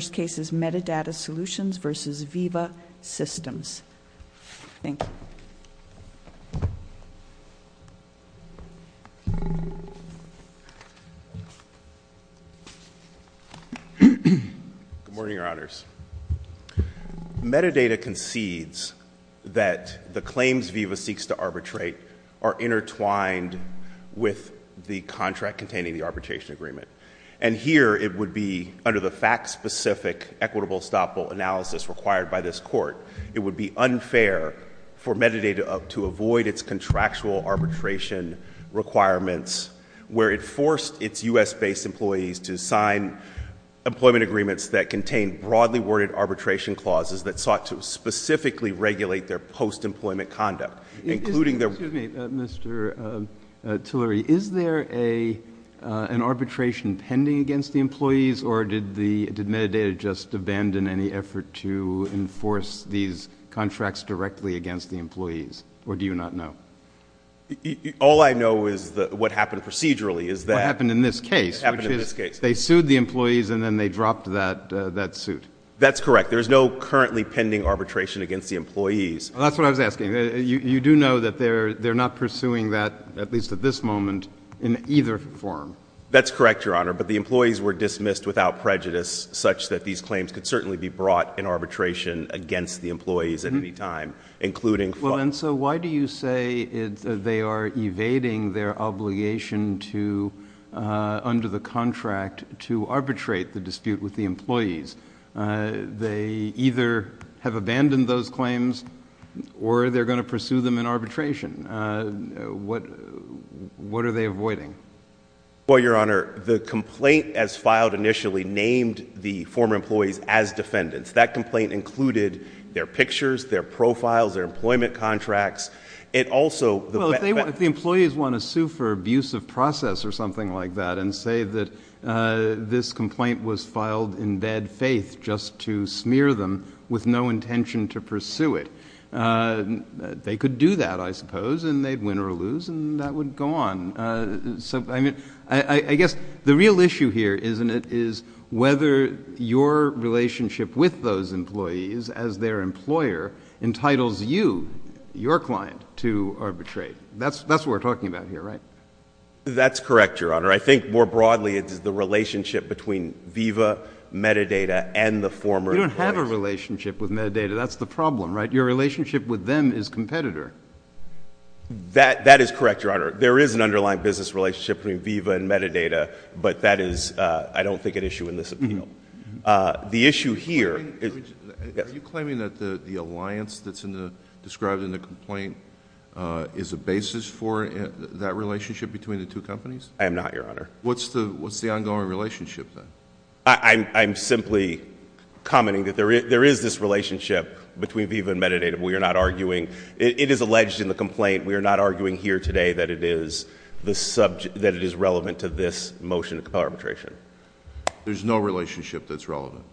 Metadata Solutions, Inc. v. VIVA Systems Thank you. Good morning, Your Honors. Metadata concedes that the claims VIVA seeks to arbitrate are intertwined with the contract containing the arbitration agreement. And here it would be, under the fact-specific equitable estoppel analysis required by this Court, it would be unfair for Metadata to avoid its contractual arbitration requirements where it forced its U.S.-based employees to sign employment agreements that contain broadly worded arbitration clauses that sought to specifically regulate their post-employment conduct, including their— Excuse me, Mr. Tillery. Is there an arbitration pending against the employees, or did Metadata just abandon any effort to enforce these contracts directly against the employees, or do you not know? All I know is what happened procedurally is that— What happened in this case, which is they sued the employees and then they dropped that suit. That's correct. There is no currently pending arbitration against the employees. That's what I was asking. You do know that they're not pursuing that at least at this moment in either form. That's correct, Your Honor, but the employees were dismissed without prejudice such that these claims could certainly be brought in arbitration against the employees at any time, including— Well, and so why do you say they are evading their obligation to, under the contract, to arbitrate the dispute with the employees? They either have abandoned those claims or they're going to pursue them in arbitration. What are they avoiding? Well, Your Honor, the complaint as filed initially named the former employees as defendants. That complaint included their pictures, their profiles, their employment contracts. It also— Well, if the employees want to sue for abuse of process or something like that and say that this complaint was filed in bad faith just to smear them with no intention to pursue it, they could do that, I suppose, and they'd win or lose, and that would go on. I guess the real issue here, isn't it, is whether your relationship with those employees as their employer entitles you, your client, to arbitrate. That's what we're talking about here, right? That's correct, Your Honor. I think more broadly it's the relationship between VIVA, metadata, and the former employees. You don't have a relationship with metadata. That's the problem, right? Your relationship with them is competitor. That is correct, Your Honor. There is an underlying business relationship between VIVA and metadata, but that is, I don't think, an issue in this appeal. The issue here— Are you claiming that the alliance that's described in the complaint is a basis for that relationship between the two companies? I am not, Your Honor. What's the ongoing relationship, then? I'm simply commenting that there is this relationship between VIVA and metadata. We are not arguing—it is alleged in the complaint—we are not arguing here today that it is relevant to this motion of arbitration. There's no relationship that's relevant?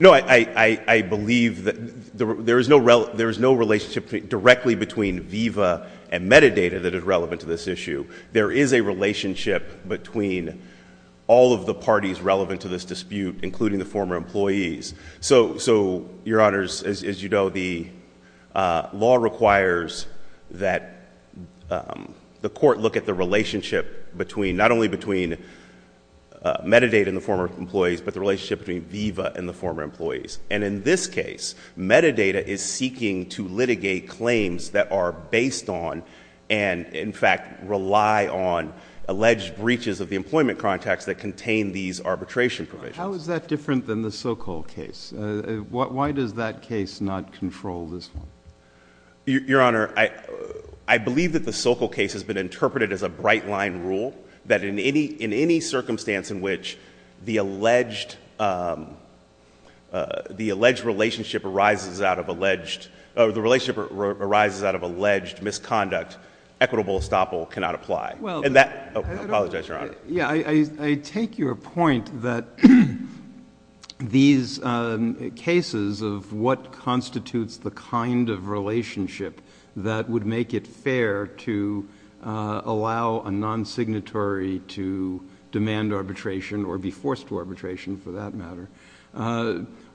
No, I believe that there is no relationship directly between VIVA and metadata that is relevant to this issue. There is a relationship between all of the parties relevant to this dispute, including the former employees. Your Honors, as you know, the law requires that the court look at the relationship not only between metadata and the former employees, but the relationship between VIVA and the former employees. In this case, metadata is seeking to litigate claims that are based on and, in fact, rely on alleged breaches of the arbitration provisions. How is that different than the Sokol case? Why does that case not control this one? Your Honor, I believe that the Sokol case has been interpreted as a bright-line rule that in any circumstance in which the alleged relationship arises out of alleged misconduct, equitable estoppel cannot apply. I apologize, Your Honor. I take your point that these cases of what constitutes the kind of relationship that would make it fair to allow a non-signatory to demand arbitration or be forced to arbitration, for that matter,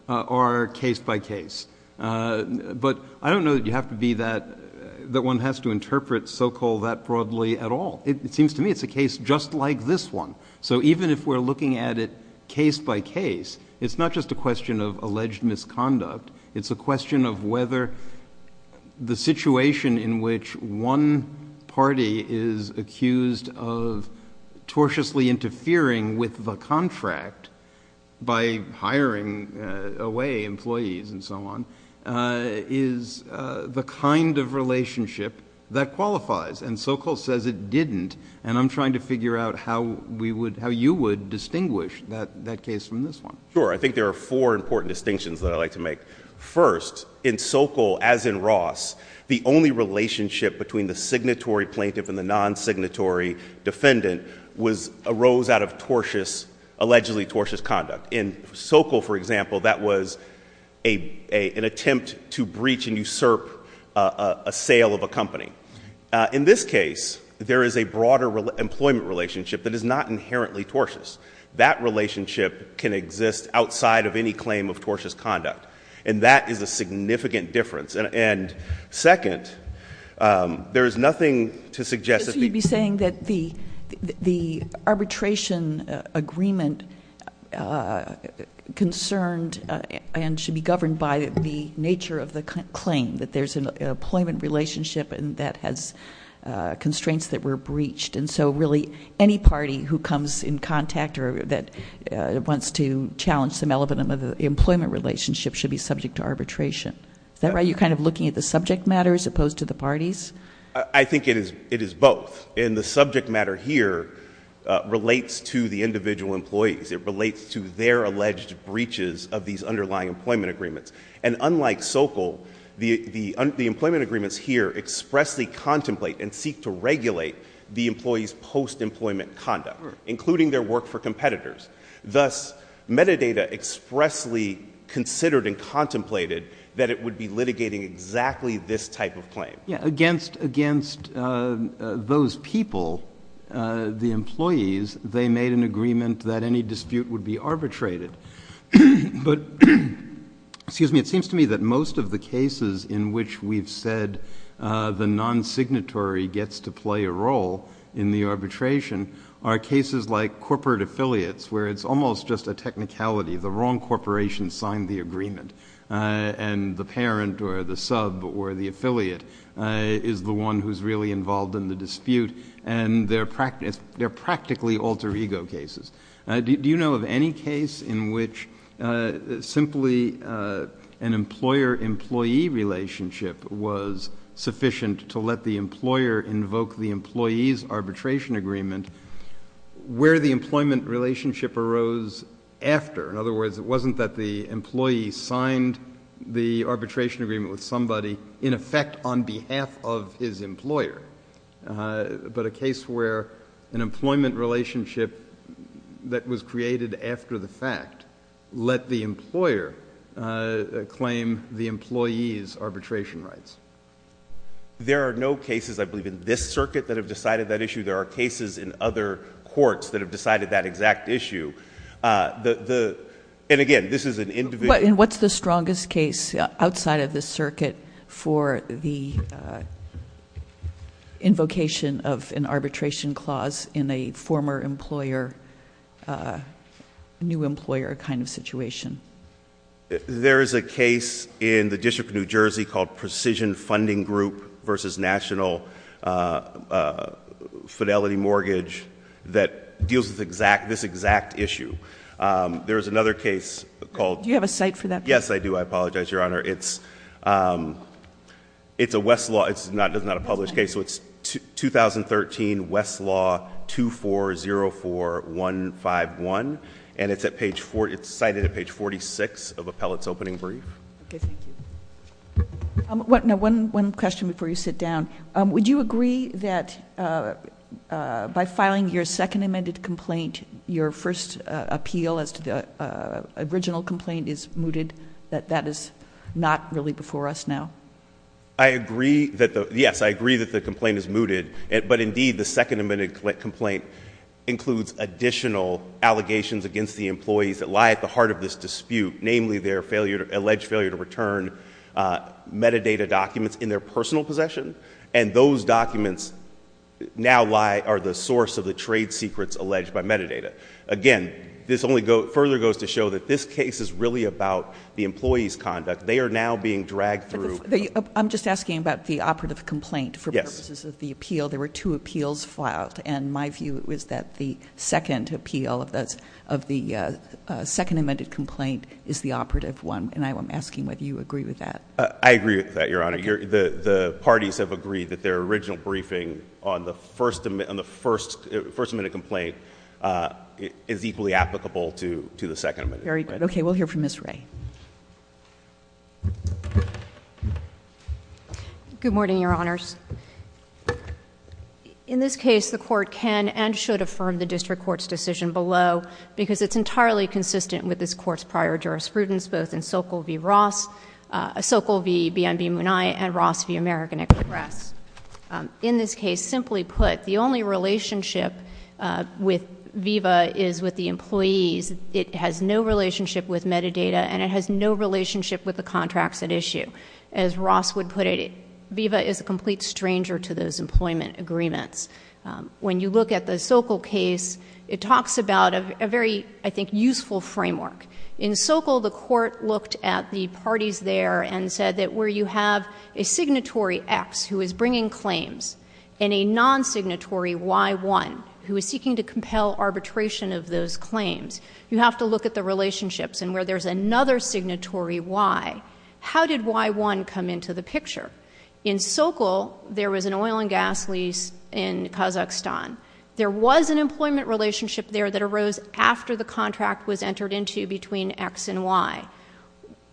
are case-by-case. I don't know that you have to be that... that one has to interpret Sokol that broadly at all. It seems to me it's a case just like this one. Even if we're looking at it case-by-case, it's not just a question of alleged misconduct. It's a question of whether the situation in which one party is accused of tortiously interfering with the contract by hiring away employees and so on is the kind of relationship that qualifies. And Sokol says it didn't. And I'm trying to figure out how you would distinguish that case from this one. Sure. I think there are four important distinctions that I'd like to make. First, in Sokol, as in Ross, the only relationship between the signatory plaintiff and the non-signatory defendant arose out of allegedly tortious conduct. In Sokol, for example, that was an attempt to assail of a company. In this case, there is a broader employment relationship that is not inherently tortious. That relationship can exist outside of any claim of tortious conduct. And that is a significant difference. And second, there is nothing to suggest... So you'd be saying that the arbitration agreement concerned and should be governed by the nature of the claim, that there's an employment relationship and that has constraints that were breached. And so really, any party who comes in contact or that wants to challenge some element of the employment relationship should be subject to arbitration. Is that right? You're kind of looking at the subject matter as opposed to the parties? I think it is both. And the subject matter here relates to the individual employees. It relates to their alleged breaches of these underlying employment agreements. And unlike Sokol, the employment agreements here expressly contemplate and seek to regulate the employees' post-employment conduct, including their work for competitors. Thus, metadata expressly considered and contemplated that it would be litigating exactly this type of claim. Against those people, the employees, they made an agreement that any case... it seems to me that most of the cases in which we've said the non-signatory gets to play a role in the arbitration are cases like corporate affiliates, where it's almost just a technicality. The wrong corporation signed the agreement. And the parent or the sub or the affiliate is the one who's really involved in the dispute. And they're practically alter ego cases. Do you know of any case in which simply an employer-employee relationship was sufficient to let the employer invoke the employee's arbitration agreement where the employment relationship arose after? In other words, it wasn't that the employee signed the arbitration agreement with somebody in effect on behalf of his employer, but a case where an agreement that was created after the fact let the employer claim the employee's arbitration rights. There are no cases, I believe, in this circuit that have decided that issue. There are cases in other courts that have decided that exact issue. And again, this is an individual... But what's the strongest case outside of this circuit for the invocation of an arbitration clause in a former employer, new employer kind of situation? There is a case in the District of New Jersey called Precision Funding Group versus National Fidelity Mortgage that deals with this exact issue. There is another case called... Do you have a site for that? Yes, I do. I apologize, Your Honor. It's a Westlaw... It's not a published case. So it's 2013 Westlaw 2404151. And it's cited at page 46 of Appellate's opening brief. Okay, thank you. One question before you sit down. Would you agree that by filing your second amended complaint, your first appeal as to the original complaint is mooted, that that is not really before us now? I agree... Yes, I agree that the complaint is mooted. But indeed, the second amended complaint includes additional allegations against the employees that lie at the heart of this dispute, namely their alleged failure to return metadata documents in their personal possession. And those documents now lie... are the source of the trade secrets alleged by metadata. Again, this only further goes to show that this case is really about the employee's conduct. They are now being dragged through... I'm just asking about the operative complaint for purposes of the appeal. There were two appeals filed. And my view is that the second appeal of the second amended complaint is the operative one. And I'm asking whether you agree with that. I agree with that, Your Honor. The parties have agreed that their original briefing on the first amended complaint is equally applicable to the second amended complaint. Very good. Okay, we'll hear from Ms. Ray. Good morning, Your Honors. In this case, the Court can and should affirm the District Court's decision below because it's entirely consistent with this Court's prior jurisprudence, both in Sokol v. Munai and Ross v. American Express. In this case, simply put, the only relationship with VIVA is with the employees. It has no relationship with metadata and it has no relationship with the contracts at issue. As Ross would put it, VIVA is a complete stranger to those employment agreements. When you look at the Sokol case, it talks about a very, I think, useful framework. In Sokol, the Court looked at the parties there and said that where you have a signatory X who is bringing claims and a non-signatory Y1 who is seeking to compel arbitration of those claims, you have to look at the relationships and where there's another signatory Y. How did Y1 come into the picture? In Sokol, there was an oil and gas lease in Kazakhstan. There was an employment relationship there that arose after the contract was entered into between X and Y.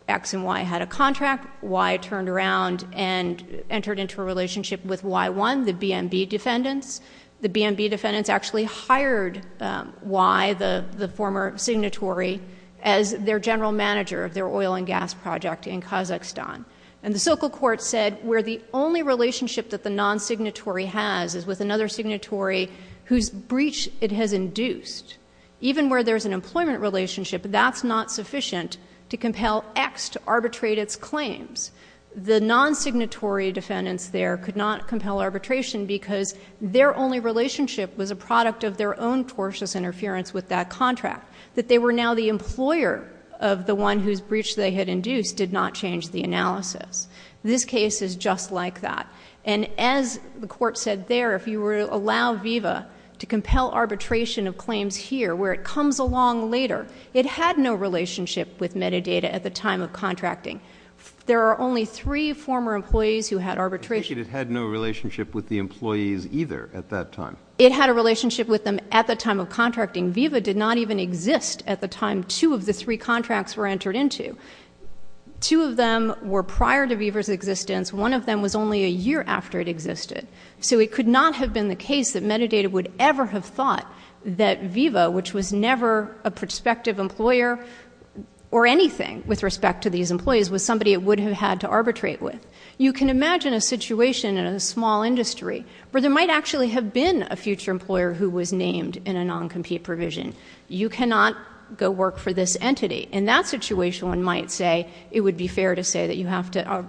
X and Y had a contract. Y turned around and entered into a relationship with Y1, the BNB defendants. The BNB defendants actually hired Y, the former signatory, as their general manager of their oil and gas project in Kazakhstan. The Sokol court said where the only relationship that the non-signatory has is with another signatory whose breach it has induced, even where there's an employment relationship, that's not sufficient to compel X to arbitrate its claims. The non-signatory defendants there could not compel arbitration because their only relationship was a product of their own tortious interference with that contract. That they were now the employer of the one whose breach they had induced did not change the analysis. This case is just like that. And as the court said there, if you were to allow VIVA to compel arbitration of claims here, where it comes along later, it had no relationship with metadata at the time of contracting. There are only three former employees who had arbitration. I appreciate it had no relationship with the employees either at that time. It had a relationship with them at the time of contracting. VIVA did not even exist at the time two of the three contracts were entered into. Two of them were prior to VIVA's existence. One of them was only a year after it existed. So it could not have been the case that metadata would ever have thought that VIVA, which was never a prospective employer or anything with respect to these employees, was somebody it would have had to arbitrate with. You can imagine a situation in a small industry where there might actually have been a future employer who was named in a non-compete provision. You cannot go work for this entity. In that situation one might say it would be fair to say that you have to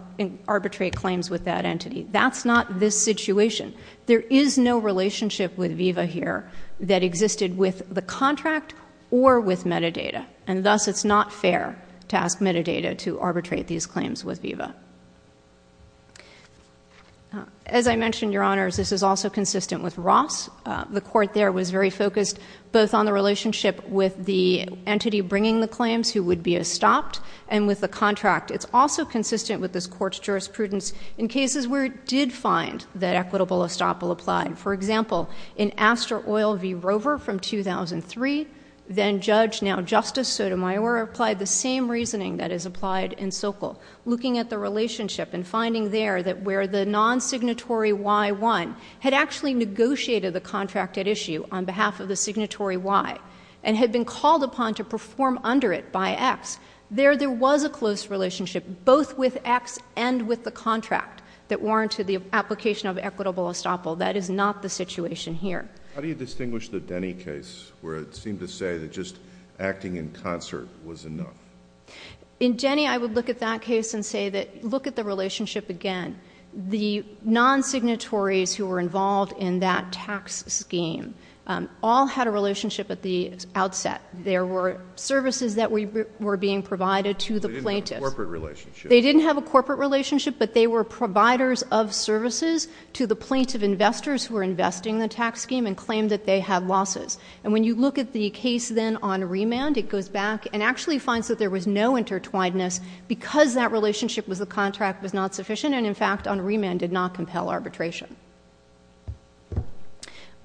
arbitrate claims with that entity. That's not this situation. There is no relationship with VIVA here that existed with the contract or with metadata. And thus it's not fair to ask metadata to be used. As I mentioned, Your Honors, this is also consistent with Ross. The court there was very focused both on the relationship with the entity bringing the claims who would be estopped and with the contract. It's also consistent with this court's jurisprudence in cases where it did find that equitable estoppel applied. For example, in Astor Oil v. Rover from 2003, then Judge, now Justice Sotomayor, applied the same reasoning that is applied in Sokol, looking at the relationship and finding there that where the non-signatory Y won had actually negotiated the contract at issue on behalf of the signatory Y and had been called upon to perform under it by X. There, there was a close relationship both with X and with the contract that warranted the application of equitable estoppel. That is not the situation here. How do you distinguish the Denny case where it seemed to say that just acting in concert was enough? In Denny, I would look at that case and say that, look at the relationship again. The non-signatories who were involved in that tax scheme all had a relationship at the outset. There were services that were being provided to the plaintiffs. They didn't have a corporate relationship. They didn't have a corporate relationship, but they were providers of services to the plaintiff investors who were investing in the tax scheme and claimed that they had losses. When you look at the case then on remand, it goes back and actually finds that there was no intertwinedness because that relationship was the contract was not sufficient and, in fact, on remand did not compel arbitration.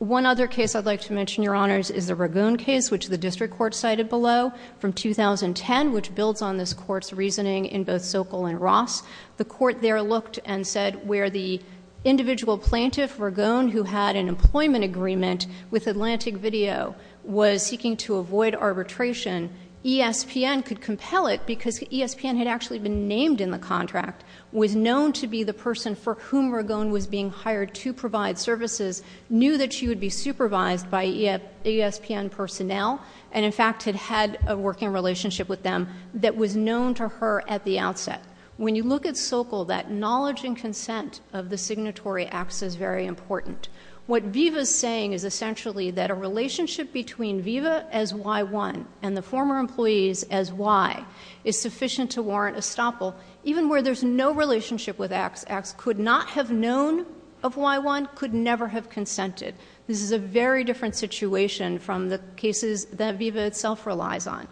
One other case I'd like to mention, Your Honors, is the Ragone case, which the district court cited below from 2010, which builds on this court's reasoning in both Sokol and Ross. The court there looked and said where the individual plaintiff, Ragone, who had an employment agreement with Atlantic Video was seeking to avoid arbitration, ESPN could compel it because ESPN had actually been named in the contract, was known to be the person for whom Ragone was being hired to provide services, knew that she would be supervised by ESPN personnel, and, in fact, had had a working relationship with them that was known to her at the outset. When you look at Sokol, that knowledge and consent of the signatory acts is very important. What Viva's saying is essentially that a relationship between Viva as Y1 and the former employees as Y is sufficient to warrant estoppel even where there's no relationship with X. X could not have known of Y1, could never have consented. This is a very different situation from the cases that Viva itself relies on.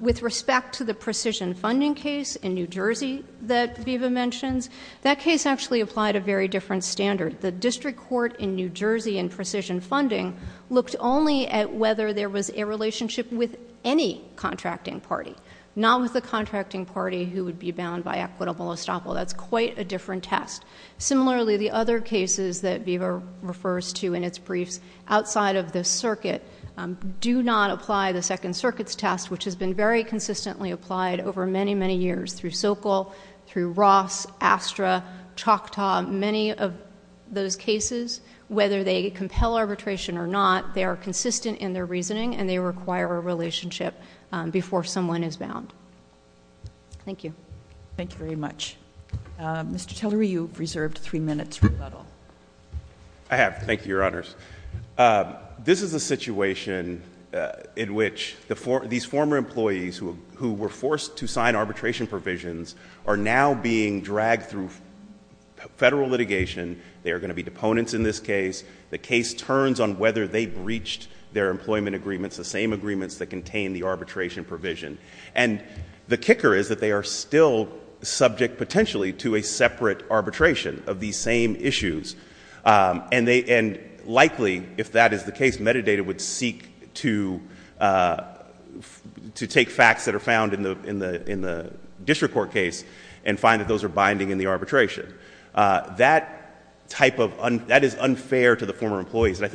With respect to the precision funding case in New Jersey that Viva mentions, that case actually applied a very different standard. The district court in New Jersey in precision funding looked only at whether there was a relationship with any contracting party, not with the contracting party who would be bound by equitable estoppel. That's quite a different test. Similarly, the other cases that Viva refers to in its briefs outside of the circuit do not apply the Second Circuit's test, which has been very consistently applied over many, many years through Sokol, through Ross, Astra, Choctaw, many of those cases, whether they compel arbitration or not, they are consistent in their reasoning and they require a relationship before someone is bound. Thank you. Thank you very much. Mr. Tillery, you've reserved three minutes. I have. Thank you, Your Honors. This is a situation in which these former employees who were forced to sign arbitration provisions are now being dragged through federal litigation. They are going to be deponents in this case. The case turns on whether they breached their employment agreements, the same agreements that contain the arbitration provision. The kicker is that they are still subject potentially to a separate arbitration of these same issues. Likely, if that is the case, metadata would seek to take facts that are found in the district court case and find that those are binding in the arbitration. That is unfair to the former employees. But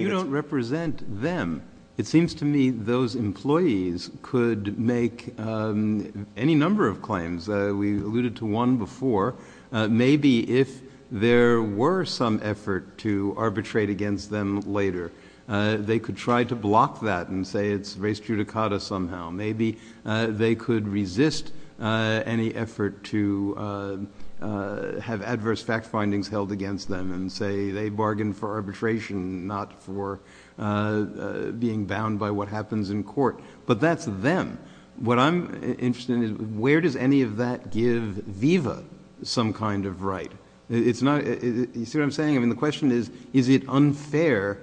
you don't represent them. It seems to me those employees could make any number of claims. We alluded to one before. Maybe if there were some effort to arbitrate against them later, they could try to block that and say it's res judicata somehow. Maybe they could resist any effort to have adverse fact findings held against them and say they bargained for arbitration, not for being bound by what happens in court. But that's them. What I'm interested in is where does any of that give VIVA some kind of right? You see what I'm saying? The question is is it unfair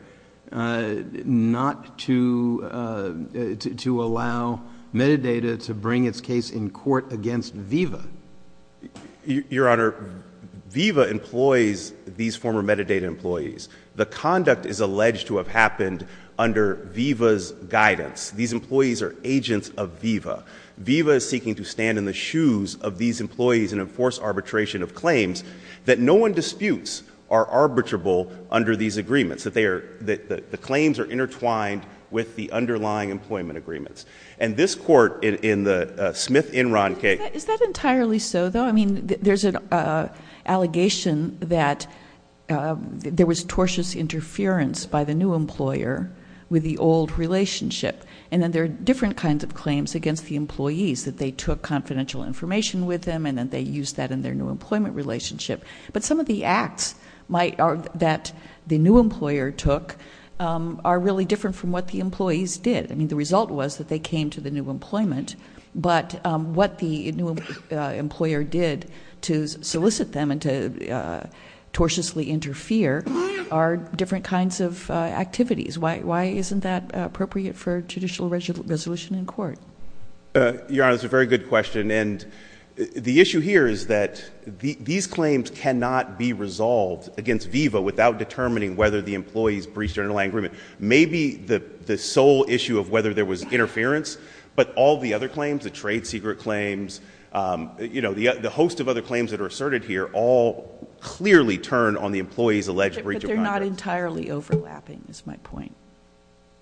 not to allow metadata to bring its case in court against VIVA? Your Honor, VIVA employs these former metadata employees. The conduct is alleged to have happened under VIVA's guidance. These employees are agents of VIVA. VIVA is seeking to stand in the shoes of these employees and enforce arbitration of claims that no one disputes are arbitrable under these agreements, that the claims are intertwined with the underlying employment agreements. And this court in the Smith-Enron case... Is that entirely so, though? I mean, there's an allegation that there was tortuous interference by the new employer with the old relationship. And then there are different kinds of claims against the employees, that they took confidential information with them and then they used that in their new employment relationship. But some of the acts that the new employer took are really different from what the employees did. I mean, the result was that they came to the new employment, but what the new employer did to solicit them and to tortiously interfere are different kinds of activities. Why isn't that appropriate for judicial resolution in court? Your Honor, that's a very good question. And the issue here is that these claims cannot be resolved against VIVA without determining whether the employees breached an underlying agreement. Maybe the sole issue of whether there was interference, but all the other claims, the trade secret claims, you know, the host of other claims that are asserted here all clearly turn on the employees' alleged breach of contracts. But they're not entirely overlapping, is my point.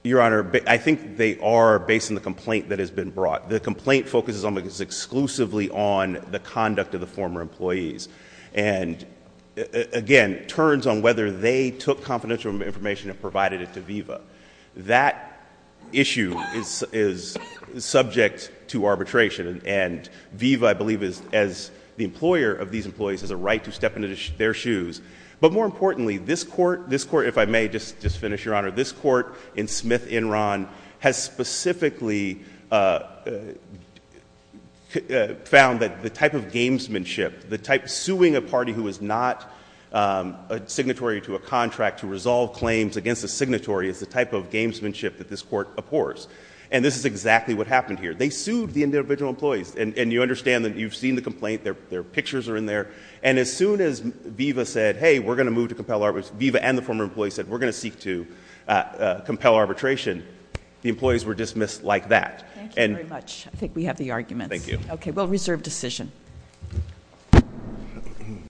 Your Honor, I think they are based on the complaint that has been brought. The complaint focuses almost exclusively on the conduct of the former employees. And again, turns on whether they took confidential information and provided it to VIVA. That issue is subject to arbitration. And VIVA, I believe, as the employer of these employees, has a right to step into their shoes. But more importantly, this Court, if I may just finish, Your Honor, this Court in Smith-Enron has specifically found that the type of gamesmanship, the type suing a party who is not a signatory to a contract to resolve claims against a signatory is the type of gamesmanship that this Court abhors. And this is exactly what happened here. They sued the individual employees. And you understand that you've seen the complaint. Their pictures are in there. And as soon as VIVA said, hey, we're going to move to compel arbitration, VIVA and the former employees said, we're going to seek to compel arbitration, the employees were dismissed like that. Thank you very much. I think we have the arguments. Thank you. Okay. We'll reserve decision.